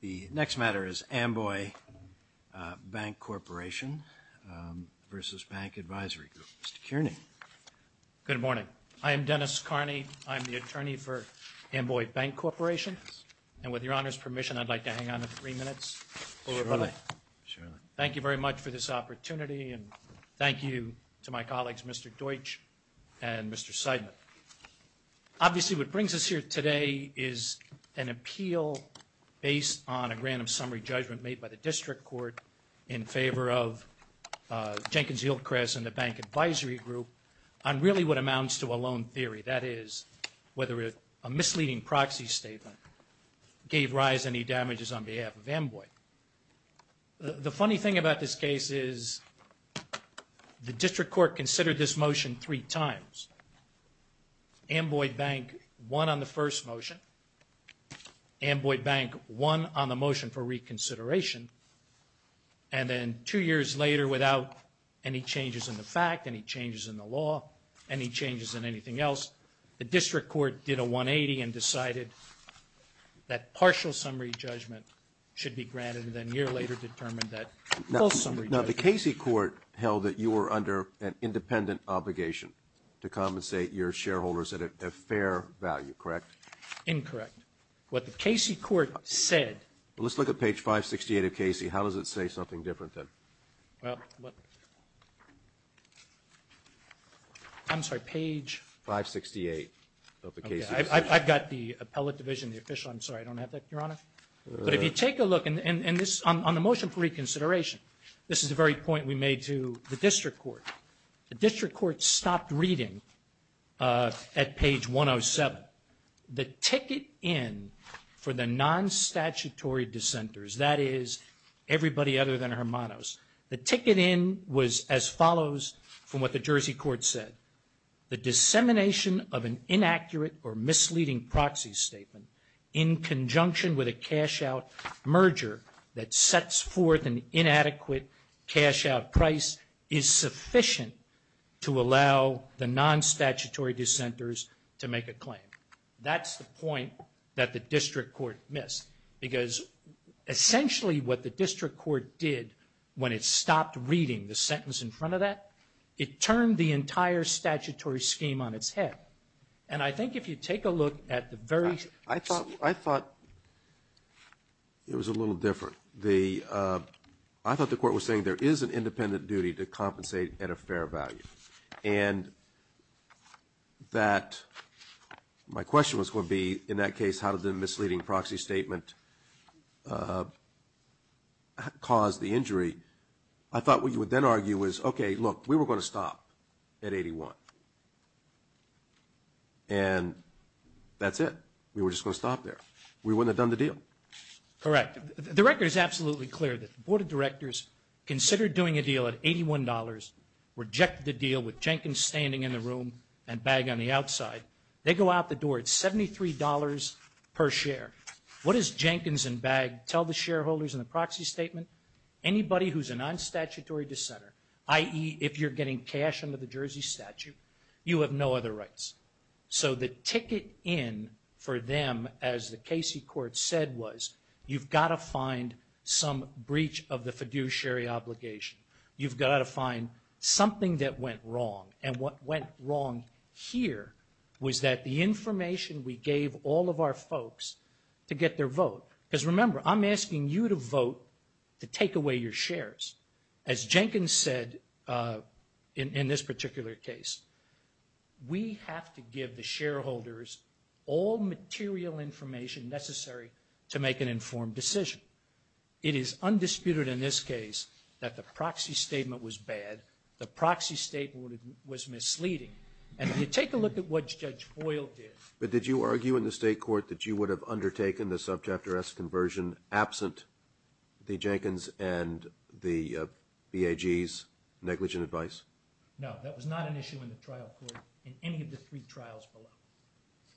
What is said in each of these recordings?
The next matter is Amboy Bank Corporation v. Bank Advisory Group. Mr. Kearney. Good morning. I am Dennis Kearney. I'm the attorney for Amboy Bank Corporation and with Your Honor's permission I'd like to hang on to three minutes. Thank you very much for this opportunity and thank you to my colleagues Mr. Deutsch and Mr. Seidman. Obviously what brings us here today is an appeal based on a random summary judgment made by the District Court in favor of Jenkins-Hilcrest and the Bank Advisory Group on really what amounts to a loan theory. That is whether a misleading proxy statement gave rise any damages on behalf of Amboy. The funny thing about this case is the District Court considered this motion three times. Amboy Bank won on the first motion. Amboy Bank won on the motion for reconsideration and then two years later without any changes in the fact, any changes in the law, any changes in anything else, the District Court did a 180 and decided that partial summary judgment should be granted and then a year later determined that full summary judgment. Now the Casey Court held that you were under an independent obligation to compensate your shareholders at a fair value, correct? Incorrect. What the Casey Court said. Let's look at page 568 of Casey. How does it say something different then? I'm sorry, page 568 of the Casey Court. I've got the appellate division, the official, I'm sorry I don't have that, Your Honor. But if you take a look and this, on the motion for reconsideration, this is the very point we made to the District Court. The District Court stopped reading at page 107. The ticket in for the non-statutory dissenters, that is everybody other than Hermanos, the ticket in was as follows from what the Jersey Court said. The dissemination of an inaccurate or misleading proxy statement in conjunction with a cash out merger that sets forth an opportunity for non-statutory dissenters to make a claim. That's the point that the District Court missed because essentially what the District Court did when it stopped reading the sentence in front of that, it turned the entire statutory scheme on its head. And I think if you take a look at the very. I thought it was a little different. I thought the court was saying there is an independent duty to compensate at a fair value. And that my question was going to be, in that case, how did the misleading proxy statement cause the injury? I thought what you would then argue was, okay, look, we were going to stop at 81. And that's it. We were just going to stop there. We wouldn't have done the deal. Correct. The record is absolutely clear that the Board of Directors considered doing a deal at $81, rejected the deal with Jenkins standing in the room and Bagg on the outside. They go out the door at $73 per share. What does Jenkins and Bagg tell the shareholders in the proxy statement? Anybody who's a non-statutory dissenter, i.e., if you're getting cash under the Jersey statute, you have no other rights. So the ticket in for them, as the Casey court said, was you've got to find some breach of the fiduciary obligation. You've got to find something that went wrong. And what went wrong here was that the information we gave all of our folks to get their vote, because remember, I'm asking you to vote to take away your shares. As Jenkins said in this particular case, we have to give the shareholders all material information necessary to make an informed decision. It is undisputed in this case that the proxy statement was bad. The proxy statement was misleading. And if you take a look at what Judge Boyle did. But did you argue in the state court that you would have undertaken the subchapter S conversion absent the Jenkins and the Bagg's negligent advice? No, that was not an issue in the trial court in any of the three trials below.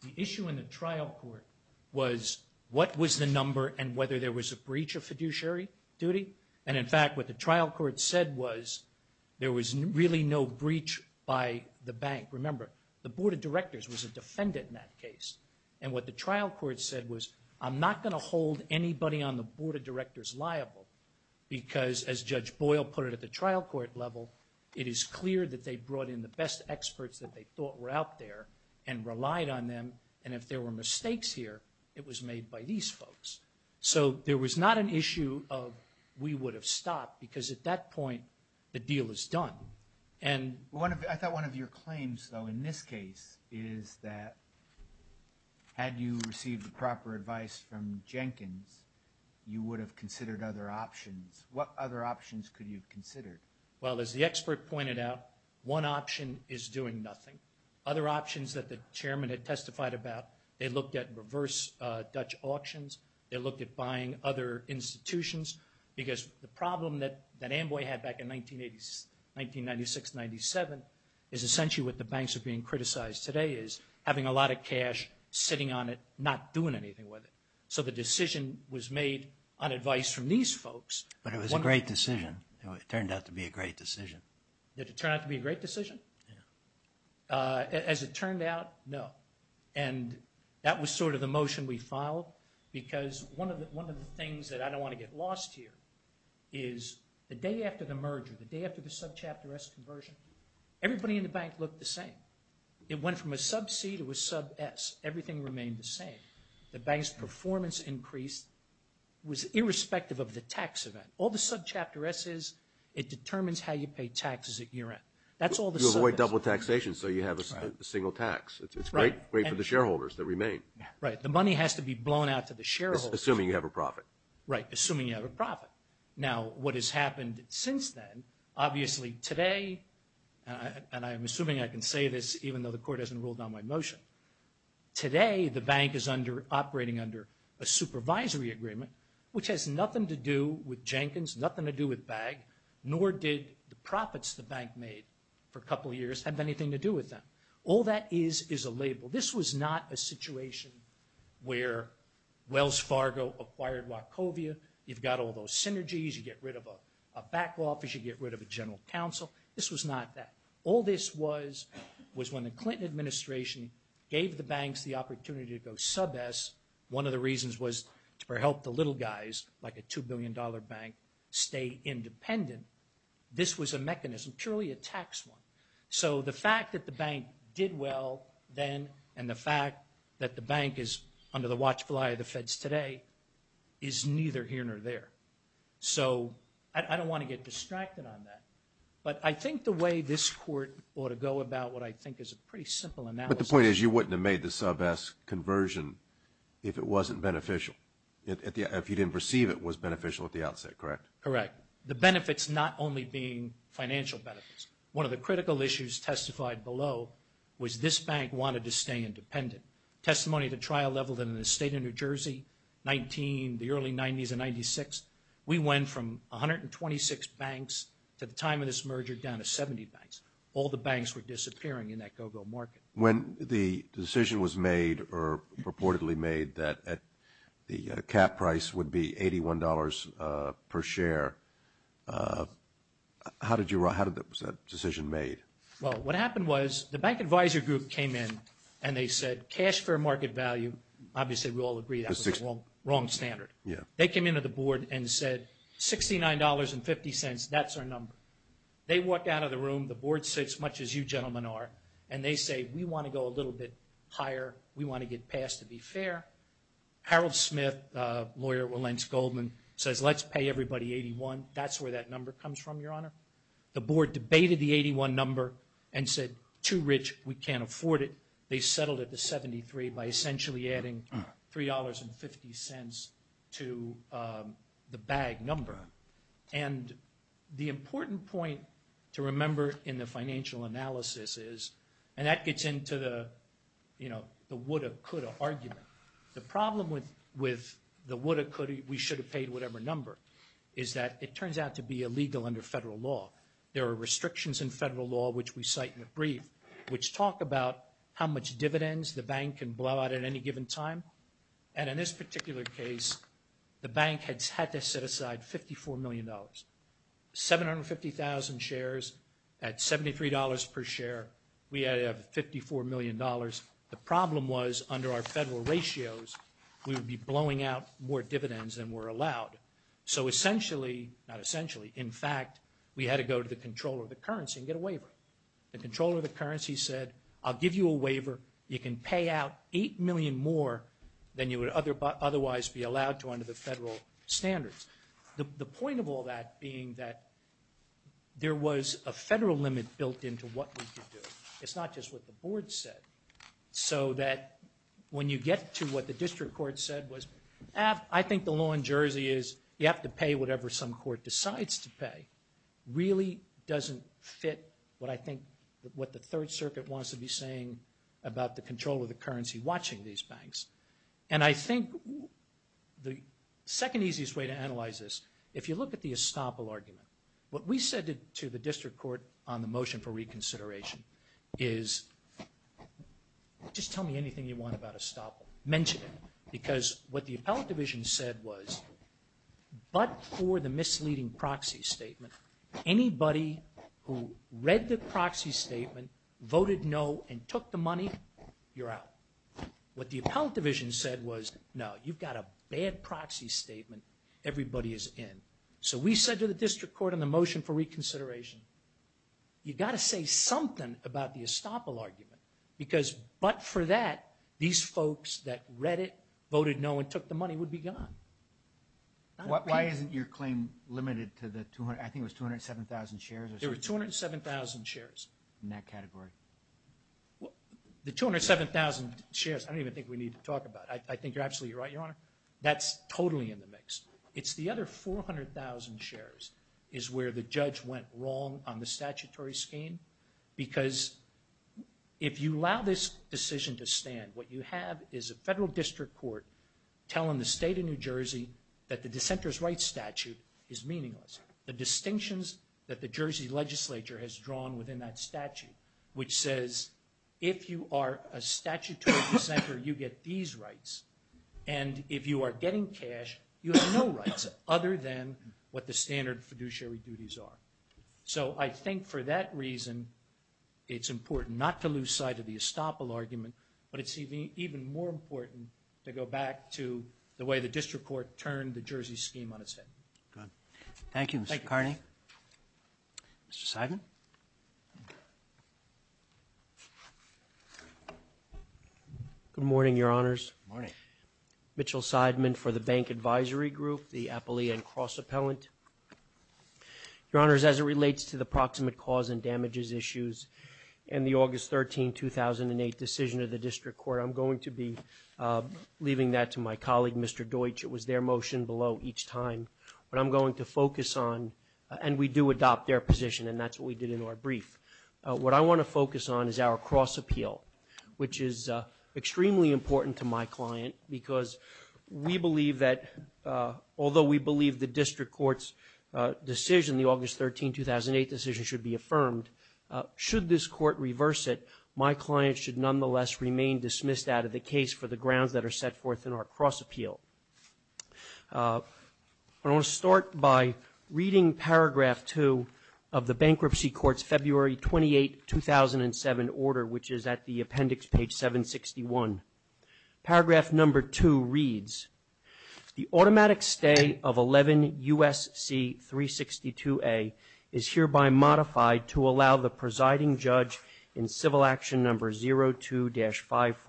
The issue in the trial court was what was the number and whether there was a breach of fiduciary duty. And in fact, what the trial court said was, there was really no breach by the bank. Remember, the board of directors was a defendant in that case. And what the trial court said was, I'm not going to hold anybody on the board of directors liable, because as Judge Boyle put it at the trial court level, it is clear that they brought in the best experts that they thought were out there and relied on them. And if there were mistakes here, it was made by these folks. So there was not an issue of we would have stopped, because at that point, the deal is done. I thought one of your claims, though, in this case is that had you received the proper advice from Jenkins, you would have considered other options. What other options could you have considered? Well, as the expert pointed out, one option is doing nothing. Other options that the chairman had testified about, they looked at reverse Dutch auctions, they looked at buying other institutions, because the problem that Amboy had back in 1996-97 is essentially what the banks are being criticized today is having a lot of cash, sitting on it, not doing anything with it. So the decision was made on advice from these folks. But it was a great decision. It turned out to be a great decision. Did it turn out to be a great decision? As it turned out, no. And that was sort of the motion we filed, because one of the things that I don't want to get lost here is the day after the merger, the day after the subchapter S conversion, everybody in the bank looked the same. It went from a sub-C to a sub-S. Everything remained the same. The bank's performance increase was irrespective of the tax event. All the subchapter S's, it determines how you pay taxes at year end. That's all the sub-S. You avoid double taxation, so you have a single tax. It's great for the shareholders that remain. Right. The money has to be blown out to the shareholders. Assuming you have a profit. Right. Assuming you have a profit. Now, what has happened since then, obviously today, and I'm assuming I can say this even though the court hasn't ruled on my motion, today, the bank is under operating under a supervisory agreement, which has nothing to do with Jenkins, nothing to do with BAG, nor did the profits the bank made for a couple of years have anything to do with them. All that is is a label. This was not a situation where Wells Fargo acquired Wachovia. You've got all those synergies. You get rid of a back office. You get rid of a general counsel. This was not that. All this was was when the Clinton administration gave the banks the opportunity to go sub-S. One of the reasons was to help the little guys, like a $2 billion bank, stay independent. This was a mechanism, purely a tax one. So the fact that the bank did well then and the fact that the bank is under the watchful eye of the Feds today is neither here nor there. So I don't want to get distracted on that, but I think the way this court ought to go about what I think is a pretty simple analysis. But the point is you wouldn't have made the sub-S conversion if it wasn't beneficial, if you didn't perceive it was beneficial at the outset, correct? Correct. The benefits not only being financial benefits. One of the critical issues testified below was this bank wanted to stay independent. Testimony at the trial level in the state of New Jersey, 19, the early 90s and 96, we went from 126 banks to the time of this merger down to 70 banks. All the banks were disappearing in that go-go market. When the decision was made or reportedly made that the cap price would be $81 per share, how did that decision made? Well, what happened was the bank advisor group came in and they said cash for market value, obviously we all agree that was the wrong standard. They came into the board and said $69.50, that's our number. They walked out of the room, the board said as much as you gentlemen are, and they say we want to go a little bit higher, we want to get passed to be fair. Harold Smith, lawyer at Wilentz Goldman, says let's pay everybody 81, that's where that number comes from, Your Honor. The board debated the 81 number and said too rich, we can't afford it. They settled at the 73 by essentially adding $3.50 to the bag number. And the important point to remember in the financial analysis is, and that gets into the, you know, the woulda, coulda argument. The problem with the woulda, coulda, we shoulda paid whatever number is that it turns out to be illegal under federal law. There are restrictions in federal law, which we cite in the brief, which talk about how much dividends the bank can blow out at any given time. And in this particular case, the bank has had to set aside $54 million. 750,000 shares at $73 per share, we have $54 million. The problem was under our federal ratios, we would be blowing out more dividends than were allowed. So essentially, not essentially, in fact, we had to go to the controller of the currency and get a waiver. The controller of the currency said, I'll give you a waiver, you can pay out $8 million more than you would otherwise be allowed to under the federal standards. The point of all that being that there was a federal limit built into what we could do. It's not just what the board said, so that when you get to what the district court said, I think the law in Jersey is you have to pay whatever some court decides to pay. Really doesn't fit what I think, what the Third Circuit wants to be saying about the controller of the currency watching these banks. And I think the second easiest way to analyze this, if you look at the estoppel argument, what we said to the district court on the motion for reconsideration is, just tell me anything you want about estoppel, mention it. Because what the appellate division said was, but for the misleading proxy statement, anybody who read the proxy statement, voted no and took the money, you're out. What the appellate division said was, no, you've got a bad proxy statement, everybody is in. So we said to the district court on the motion for reconsideration, you've got to say something about the estoppel argument, because but for that, these folks that read it, voted no and took the money would be gone. Why isn't your claim limited to the 200, I think it was 207,000 shares? There were 207,000 shares. In that category. The 207,000 shares, I don't even think we need to talk about it. I think you're absolutely right, your honor. That's totally in the mix. It's the other 400,000 shares is where the judge went wrong on the statutory scheme. Because if you allow this decision to stand, what you have is a federal district court telling the state of New Jersey that the dissenter's rights statute is meaningless. The distinctions that the Jersey legislature has drawn within that statute, which says if you are a statutory dissenter, you get these rights. And if you are getting cash, you have no rights other than what the standard fiduciary duties are. So I think for that reason, it's important not to lose sight of the estoppel argument, but it's even more important to go back to the way the district court turned the Jersey scheme on its head. Thank you, Mr. Carney. Mr. Seidman. Good morning, your honors. Good morning. Mitchell Seidman for the Bank Advisory Group, the Appalachian Cross Appellant. Your honors, as it relates to the proximate cause and damages issues and the August 13, 2008 decision of the district court, I'm going to be leaving that to my colleague, Mr. Deutsch. It was their motion below each time. What I'm going to focus on, and we do adopt their position, and that's what we did in our brief, what I want to focus on is our cross appeal, which is extremely important to my client because we believe that, although we believe the district court's decision, the August 13, 2008 decision should be affirmed, should this court reverse it, my client should nonetheless remain dismissed out of the case for the grounds that are set forth in our cross appeal. I want to start by reading paragraph two of the bankruptcy court's February 28, 2007 order, which is at the appendix, page 761. Paragraph number two reads, the automatic stay of 11 U.S.C. 362A is hereby modified to allow the presiding judge in civil action number 02-5410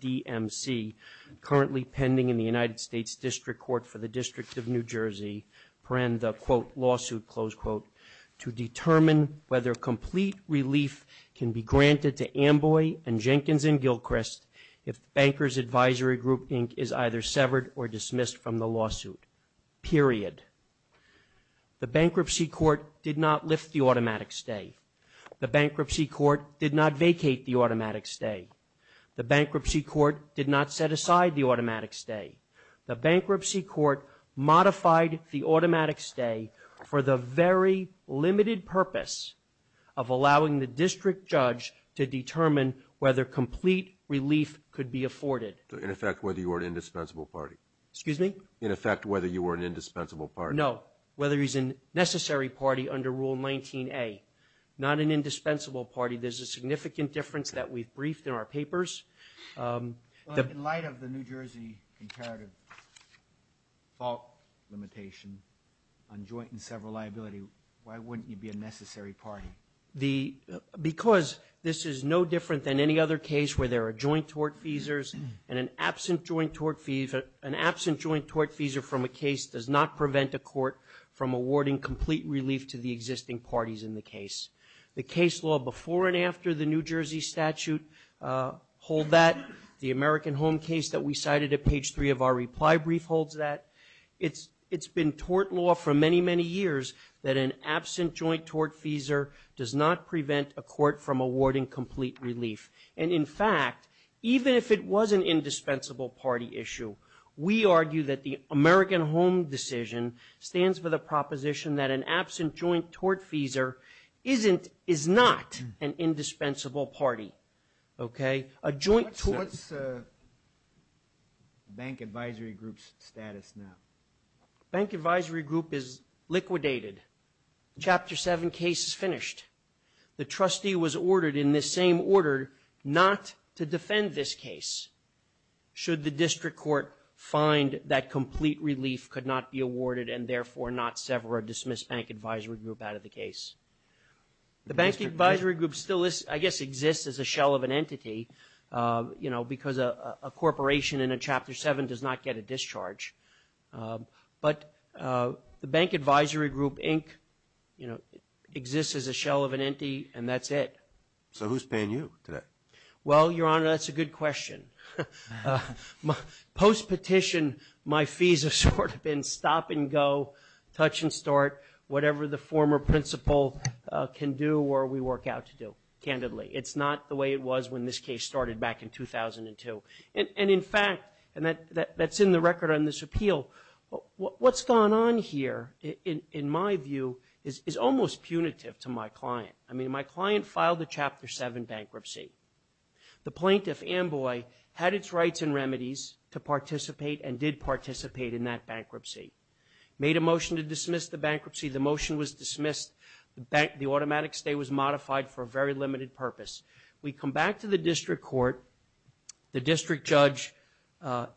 DMC, currently pending in the United States District Court for the District of New Jersey, to end the, quote, lawsuit, close quote, to determine whether complete relief can be granted to Amboy and Jenkins and Gilchrist if the Banker's Advisory Group Inc. is either severed or dismissed from the lawsuit, period. The bankruptcy court did not lift the automatic stay. The bankruptcy court did not vacate the automatic stay. The bankruptcy court did not set aside the automatic stay. The bankruptcy court modified the automatic stay for the very limited purpose of allowing the district judge to determine whether complete relief could be afforded. In effect, whether you were an indispensable party. Excuse me? In effect, whether you were an indispensable party. No, whether he's a necessary party under Rule 19A. Not an indispensable party. There's a significant difference that we've briefed in our papers. In light of the New Jersey comparative fault limitation on joint and several liability, why wouldn't you be a necessary party? Because this is no different than any other case where there are joint tort feasors and an absent joint tort feasor from a case does not prevent a court from awarding complete relief to the existing parties in the case. The case law before and after the New Jersey statute hold that. The American Home case that we cited at page 3 of our reply brief holds that. It's been tort law for many, many years that an absent joint tort feasor does not prevent a court from awarding complete relief. And in fact, even if it was an indispensable party issue, we argue that the American Home decision stands for the proposition that an absent joint tort feasor is not an indispensable party. Okay? A joint tort... What's Bank Advisory Group's status now? Bank Advisory Group is liquidated. Chapter 7 case is finished. The trustee was ordered in this same order not to defend this case should the district court find that complete relief could not be awarded and therefore not sever or dismiss Bank Advisory Group out of the case. The Bank Advisory Group still is... I guess exists as a shell of an entity, you know, because a corporation in a Chapter 7 does not get a discharge. But the Bank Advisory Group, Inc., you know, exists as a shell of an entity, and that's it. So who's paying you today? Well, Your Honor, that's a good question. Post-petition, my fees have sort of been stop and go, touch and start, whatever the former principal can do or we work out to do, candidly. It's not the way it was when this case started back in 2002. And in fact, and that's in the record on this appeal, what's gone on here, in my view, is almost punitive to my client. I mean, my client filed a Chapter 7 bankruptcy. The plaintiff, Amboy, had its rights and remedies to participate and did participate in that bankruptcy, made a motion to dismiss the bankruptcy. The motion was dismissed. The automatic stay was modified for a very limited purpose. We come back to the district court. The district judge,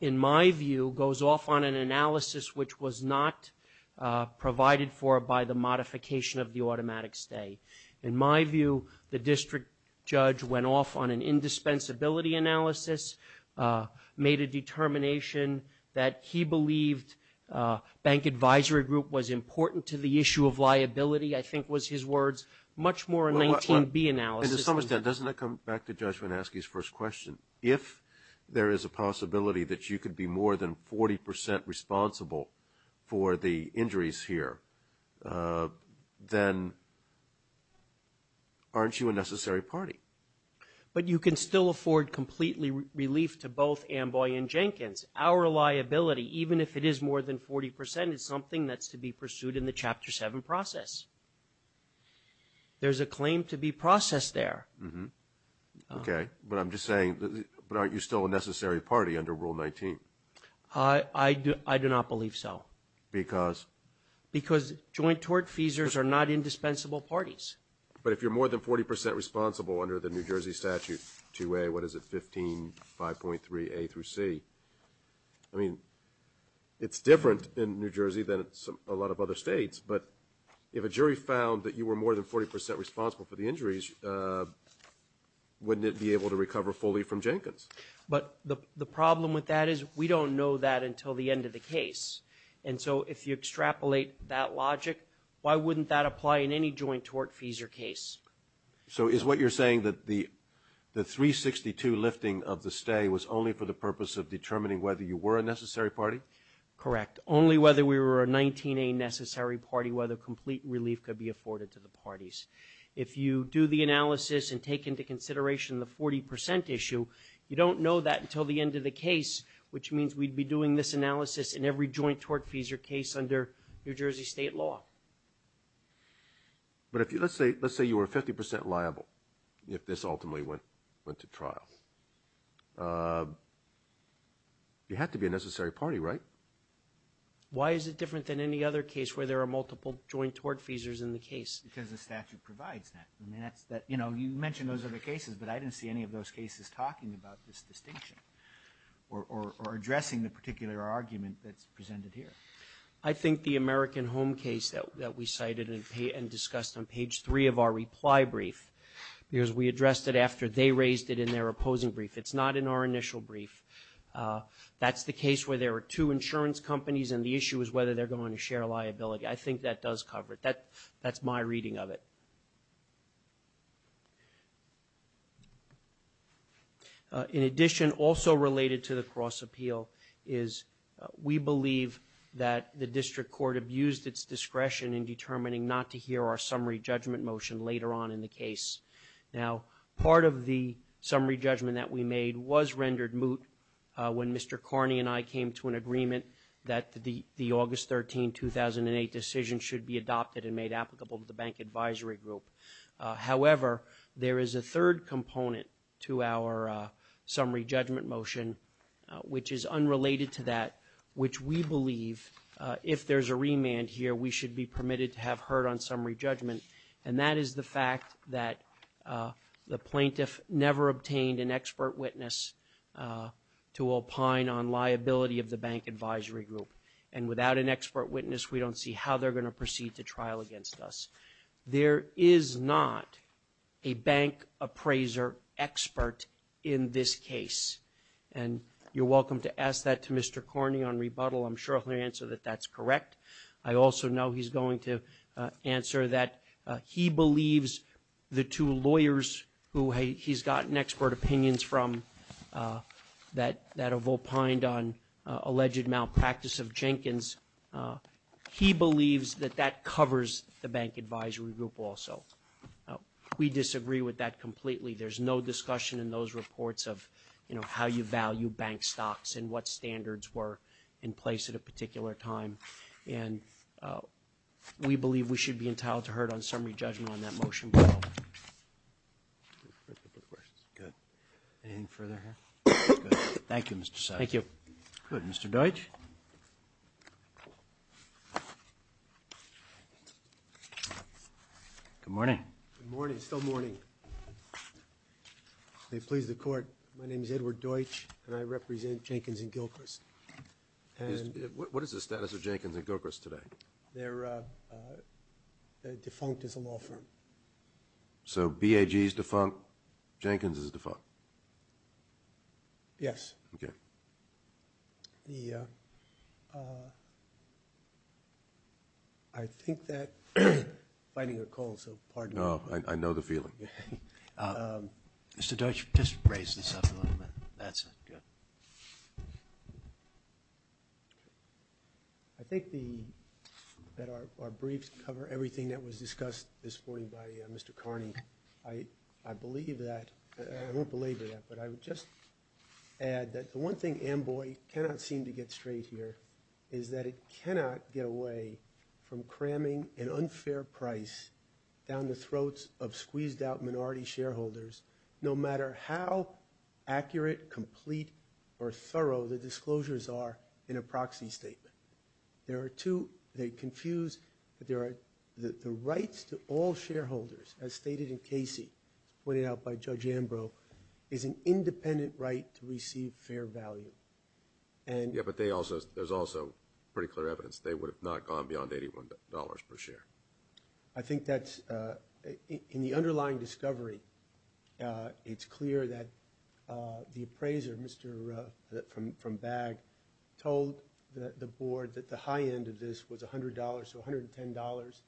in my view, goes off on an analysis which was not provided for by the modification of the automatic stay. In my view, the district judge went off on an indispensability analysis, made a determination that he believed Bank Advisory Group was important to the issue of liability, I think was his words, much more a 19B analysis. And to some extent, doesn't that come back to Judge Wanasky's first question? If there is a possibility that you could be more than 40% responsible for the injuries here, then aren't you a necessary party? But you can still afford completely relief to both Amboy and Jenkins. Our liability, even if it is more than 40%, is something that's to be pursued in the Chapter 7 process. There's a claim to be processed there. Okay, but I'm just saying, but aren't you still a necessary party under Rule 19? I do not believe so. Because? Because joint tort feasors are not indispensable parties. But if you're more than 40% responsible under the New Jersey Statute 2A, what is it, 15.5.3A-C, I mean, it's different in New Jersey than a lot of other states, but if a jury found that you were more than 40% responsible for the injuries, wouldn't it be able to recover fully from Jenkins? But the problem with that is we don't know that until the end of the case. And so if you extrapolate that logic, why wouldn't that apply in any joint tort feasor case? So is what you're saying that the 362 lifting of the stay was only for the purpose of determining whether you were a necessary party? Correct. Only whether we were a 19A necessary party, whether complete relief could be afforded to the parties. If you do the analysis and take into consideration the 40% issue, you don't know that until the end of the case, which means we'd be doing this analysis in every joint tort feasor case under New Jersey state law. But let's say you were 50% liable if this ultimately went to trial. You had to be a necessary party, right? Why is it different than any other case where there are multiple joint tort feasors in the case? Because the statute provides that. You mentioned those other cases, but I didn't see any of those cases talking about this distinction or addressing the particular argument that's presented here. I think the American Home case that we cited and discussed on page 3 of our reply brief, because we addressed it after they raised it in their opposing brief. It's not in our initial brief. That's the case where there are two insurance companies and the issue is whether they're going to share liability. I think that does cover it. That's my reading of it. In addition, also related to the cross-appeal, is we believe that the district court abused its discretion in determining not to hear our summary judgment motion later on in the case. Now, part of the summary judgment that we made was rendered moot when Mr. Carney and I came to an agreement that the August 13, 2008 decision should be adopted and made applicable to the bank advisory group. However, there is a third component to our summary judgment motion, which is unrelated to that, which we believe, if there's a remand here, we should be permitted to have heard on summary judgment, and that is the fact that the plaintiff never obtained an expert witness to opine on liability of the bank advisory group. And without an expert witness, we don't see how they're going to proceed to trial against us. There is not a bank appraiser expert in this case. And you're welcome to ask that to Mr. Carney on rebuttal. I'm sure he'll answer that that's correct. I also know he's going to answer that he believes the two lawyers who he's gotten expert opinions from that have opined on alleged malpractice of Jenkins, he believes that that covers the bank advisory group also. We disagree with that completely. There's no discussion in those reports of how you value bank stocks and what standards were in place at a particular time. And we believe we should be entitled to heard on summary judgment on that motion. Anything further? Thank you, Mr. Sessions. Good. Mr. Deutsch? Good morning. Good morning. Still morning. May it please the court. My name is Edward Deutsch and I represent Jenkins and Gilchrist. What is the status of Jenkins and Gilchrist today? They're defunct as a law firm. So BAG is defunct. Jenkins is defunct. Yes. The I think that I'm fighting a cold, so pardon me. I know the feeling. Mr. Deutsch, just raise this up a little bit. I think that our briefs cover everything that was discussed this morning by Mr. Carney. I believe that I won't belabor that, but I would just add that the one thing Amboy cannot seem to get straight here is that it cannot get away from cramming an unfair price down the throats of squeezed out minority shareholders no matter how accurate, complete, or thorough the disclosures are in a proxy statement. There are two, they confuse the rights to all shareholders, as stated in Casey, pointed out by Judge Ambrose, is an independent right to receive fair value. Yeah, but there's also pretty clear evidence they would have not gone beyond $81 per share. I think that's in the underlying discovery it's clear that the appraiser, Mr. from BAG, told the board that the high end of this was $100, so $110.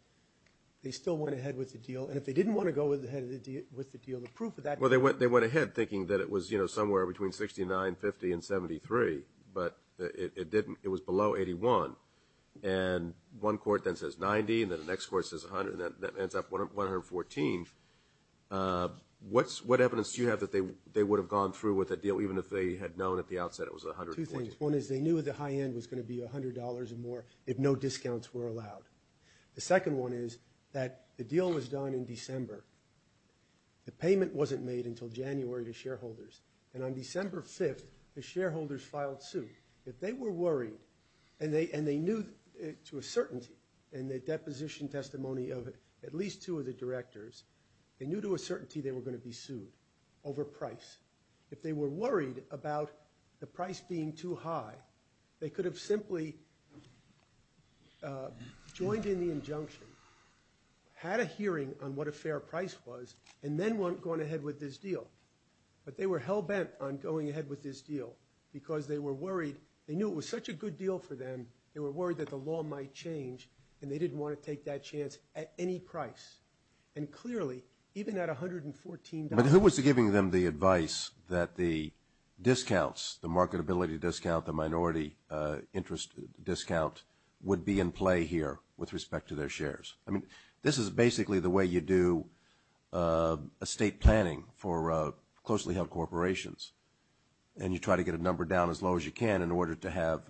They still went ahead with the deal, and if they didn't want to go ahead with the deal, the proof of that... Well, they went ahead thinking that it was, you know, somewhere between $69.50 and $73, but it was below $81, and one court then says $90, and then the next court says $100, and that ends up $114. What evidence do you have that they would have gone through with the deal, even if they had known at the outset it was $114? Two things. One is they knew the high end was going to be $100 or more if no discounts were allowed. The second one is that the deal was done in December. The payment wasn't made until January to shareholders, and on that day, they filed suit. If they were worried and they knew to a certainty, in the deposition testimony of at least two of the directors, they knew to a certainty they were going to be sued over price. If they were worried about the price being too high, they could have simply joined in the injunction, had a hearing on what a fair price was, and then went ahead with this deal. But they were hell-bent on going ahead with this deal because they were worried. They knew it was such a good deal for them. They were worried that the law might change, and they didn't want to take that chance at any price. And clearly, even at $114... But who was giving them the advice that the discounts, the marketability discount, the minority interest discount would be in play here with respect to their shares? I mean, this is basically the way you do estate planning for closely-held corporations. And you try to get a number down as low as you can in order to have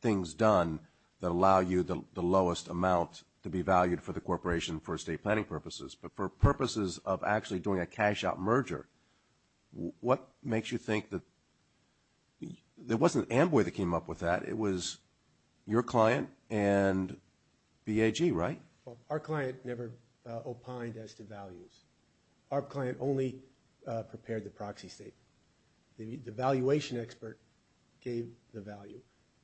things done that allow you the lowest amount to be valued for the corporation for estate planning purposes. But for purposes of actually doing a cash-out merger, what makes you think that... It wasn't Amboy that came up with that. It was your client and BAG, right? Our client never opined as to values. Our client only prepared the proxy statement. The valuation expert gave the value.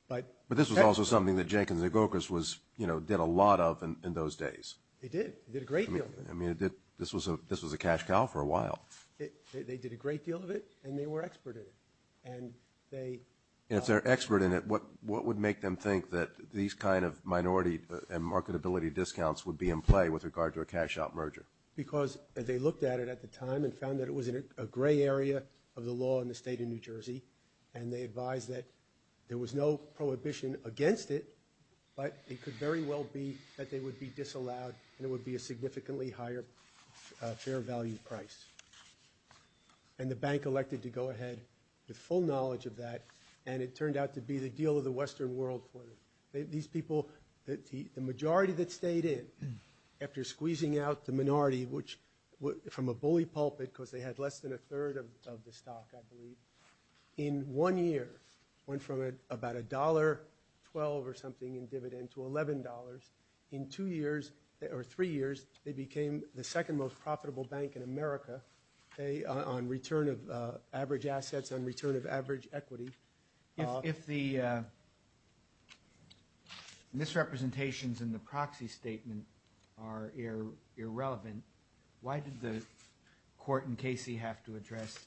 But this was also something that Jenkins and Gokas did a lot of in those days. They did. They did a great deal. I mean, this was a cash cow for a while. They did a great deal of it, and they were expert in it. And they... If they're expert in it, what would make them think that these kind of minority and marketability discounts would be in play with regard to a cash-out merger? Because they looked at it at the time and found that it was a gray area of the law in the state of New Jersey, and they advised that there was no prohibition against it, but it could very well be that they would be disallowed, and it would be a significantly higher fair value price. And the bank elected to go ahead with full knowledge of that, and it turned out to be the deal of the Western world for them. These people... The majority that stayed in after squeezing out the minority, which from a bully pulpit, because they had less than a third of the stock, I believe, in one year went from about a dollar twelve or something in dividend to eleven dollars. In two years or three years, they became the second most profitable bank in America on return of average assets, on return of average equity. If the misrepresentations in the proxy statement are irrelevant, why did the court in Casey have to address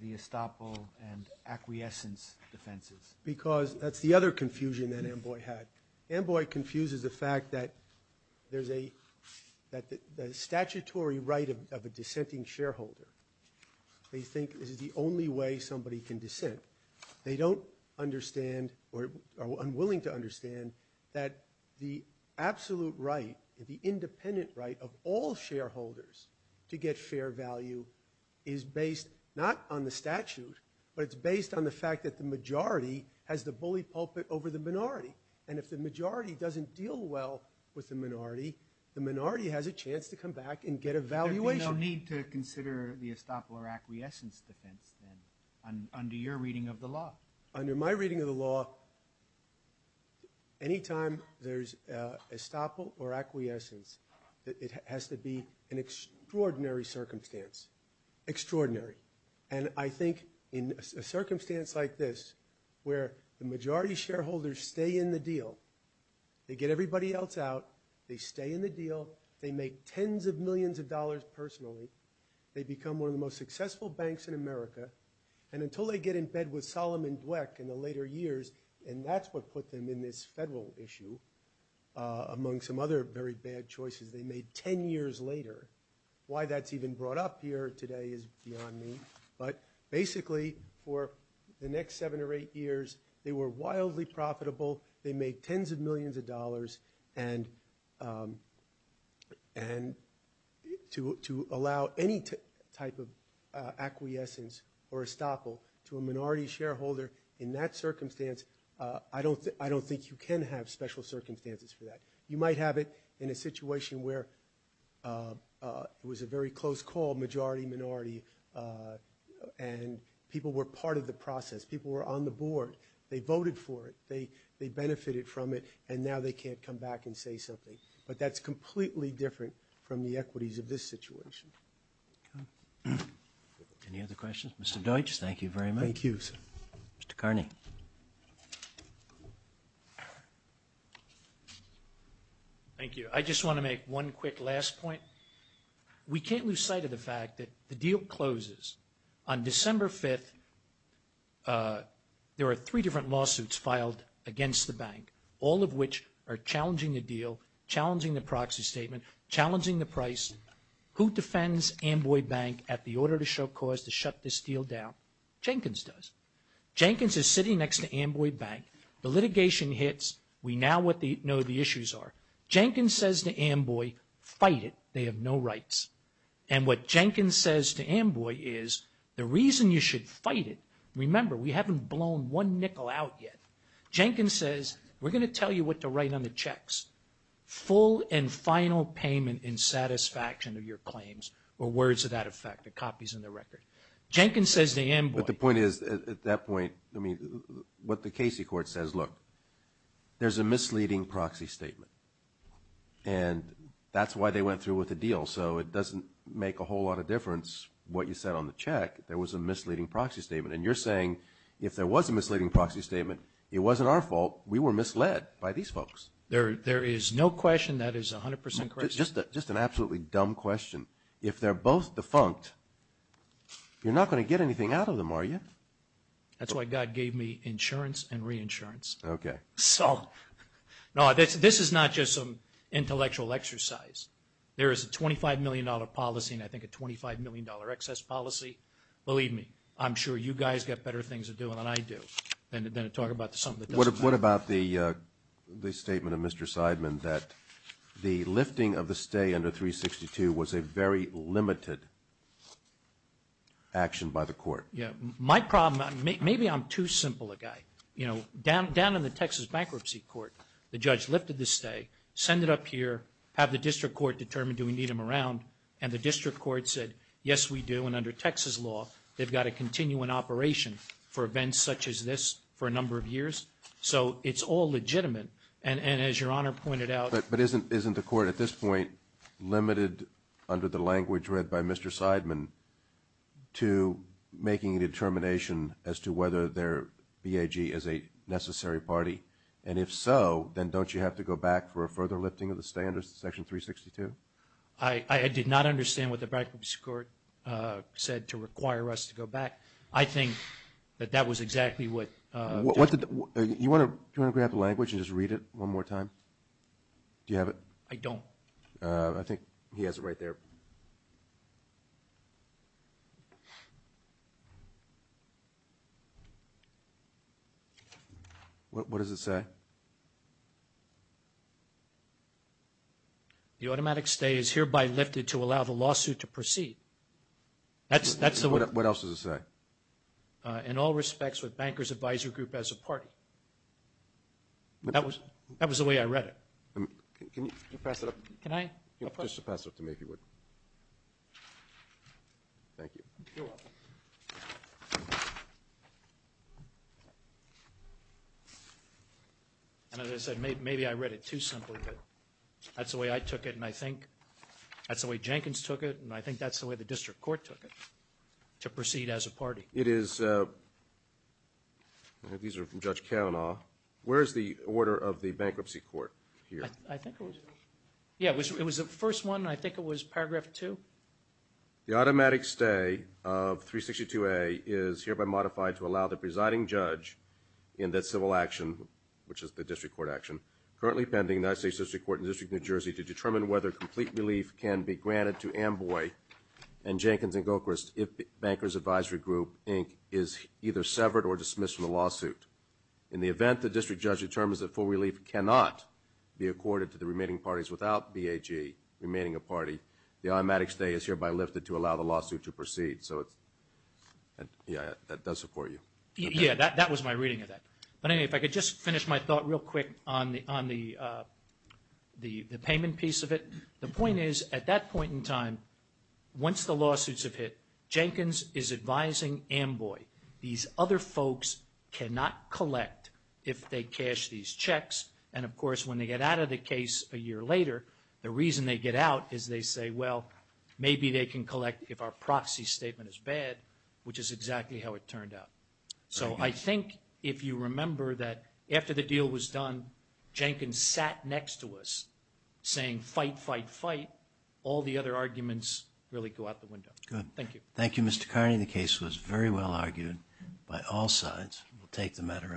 the estoppel and acquiescence defenses? Because that's the other confusion that Amboy had. Amboy confuses the fact that there's a... the statutory right of a dissenting shareholder. They think this is the only way somebody can dissent. They don't understand or are unwilling to understand that the absolute right, the independent right of all shareholders to get fair value is based not on the statute, but it's based on the fact that the majority has the bully pulpit over the minority. And if the majority doesn't deal well with the minority, the minority has a chance to come back and get a valuation. There'd be no need to consider the estoppel or acquiescence defense, then, under your reading of the law. Under my reading of the law, any time there's estoppel or acquiescence it has to be an extraordinary circumstance. Extraordinary. And I think in a circumstance like this, where the majority shareholders stay in the deal, they get everybody else out, they stay in the deal, they make tens of millions of dollars personally, they become one of the most successful banks in America, and until they get in bed with Solomon Dweck in the later years, and that's what put them in this federal issue, among some other very bad choices they made ten years later. Why that's even brought up here today is beyond me, but basically, for the next seven or eight years, they were wildly profitable, they made tens of millions of dollars, and to allow any type of acquiescence or estoppel to a minority shareholder in that circumstance, I don't think you can have special circumstances for that. You might have it in a situation where it was a very close call majority-minority and people were part of the process, people were on the board, they voted for it, they benefited from it, and now they can't come back and say something. But that's completely different from the equities of this Any other questions? Mr. Deutsch, thank you very much. Thank you, sir. Mr. Carney. Thank you. I just want to make one quick last point. We can't lose sight of the fact that the deal closes on December 5th. There are three different lawsuits filed against the bank, all of which are challenging the deal, challenging the proxy statement, challenging the price. Who defends Amboy Bank at the order to show cause to shut this deal down? Jenkins does. Jenkins is sitting next to Amboy Bank. The litigation hits. We now know what the issues are. Jenkins says to Amboy, fight it, they have no rights. And what Jenkins says to Amboy is, the reason you should fight it, remember we haven't blown one nickel out yet. Jenkins says, we're going to tell you what to write on the checks. Full and final payment in satisfaction of your claims, or words of that effect that copies in the record. Jenkins says to Amboy. But the point is, at that point, I mean, what the Casey Court says, look, there's a misleading proxy statement. And that's why they went through with the deal. So it doesn't make a whole lot of difference what you said on the check. There was a misleading proxy statement. And you're saying, if there was a misleading proxy statement, it wasn't our fault. We were misled by these folks. There is no question that is 100 percent correct. Just an absolutely dumb question. If they're both defunct, you're not going to get anything out of them, are you? That's why God gave me insurance and reinsurance. Okay. This is not just some intellectual exercise. There is a $25 million policy and I think a $25 million excess policy. Believe me, I'm sure you guys got better things to do than I do than to talk about something that doesn't matter. What about the statement of lifting of the stay under 362 was a very limited action by the court. My problem, maybe I'm too simple a guy. Down in the Texas bankruptcy court the judge lifted the stay, send it up here, have the district court determine do we need them around, and the district court said, yes we do and under Texas law they've got to continue an operation for events such as this for a number of years. So it's all legitimate. And as your at this point, limited under the language read by Mr. Seidman to making a determination as to whether their BAG is a necessary party. And if so then don't you have to go back for a further lifting of the stay under section 362? I did not understand what the bankruptcy court said to require us to go back. I think that that was exactly what you want to grab the language and just read it one more time? Do you have it? I don't. I think he has it right there. What does it say? The automatic stay is hereby lifted to allow the lawsuit to proceed. What else does it say? In all respects with Bankers Advisory Group as a party. That was the way I read it. Can you pass it up? Just pass it up to me if you would. Thank you. You're welcome. And as I said maybe I read it too simply but that's the way I took it and I think that's the way Jenkins took it and I think that's the way the district court took it to proceed as a party. These are from Judge Kavanaugh. Where is the order of the bankruptcy court here? It was the first one and I think it was paragraph two. The automatic stay of 362A is hereby modified to allow the presiding judge in that civil action, which is the district court action, currently pending the United States District Court in the District of New Jersey to determine whether complete relief can be granted to Amboy and Jenkins and Gilchrist if Bankers Advisory Group, Inc. is either severed or dismissed from the lawsuit. In the event the district judge determines that full relief cannot be accorded to the remaining parties without BAG remaining a party the automatic stay is hereby lifted to allow the lawsuit to proceed. Yeah, that does support you. Yeah, that was my reading of that. But anyway if I could just finish my thought real quick on the payment piece of it. The point is at that point in time once the lawsuits have hit Jenkins is advising Amboy these other folks cannot collect if they cash these checks and of course when they get out of the case a year later the reason they get out is they say well maybe they can collect if our proxy statement is bad which is exactly how it turned out. remember that after the deal was done Jenkins sat next to us saying fight, fight, fight, all the other arguments really go out the window. Thank you Mr. Carney. The case was very well argued by all sides. We'll take the matter under advisement.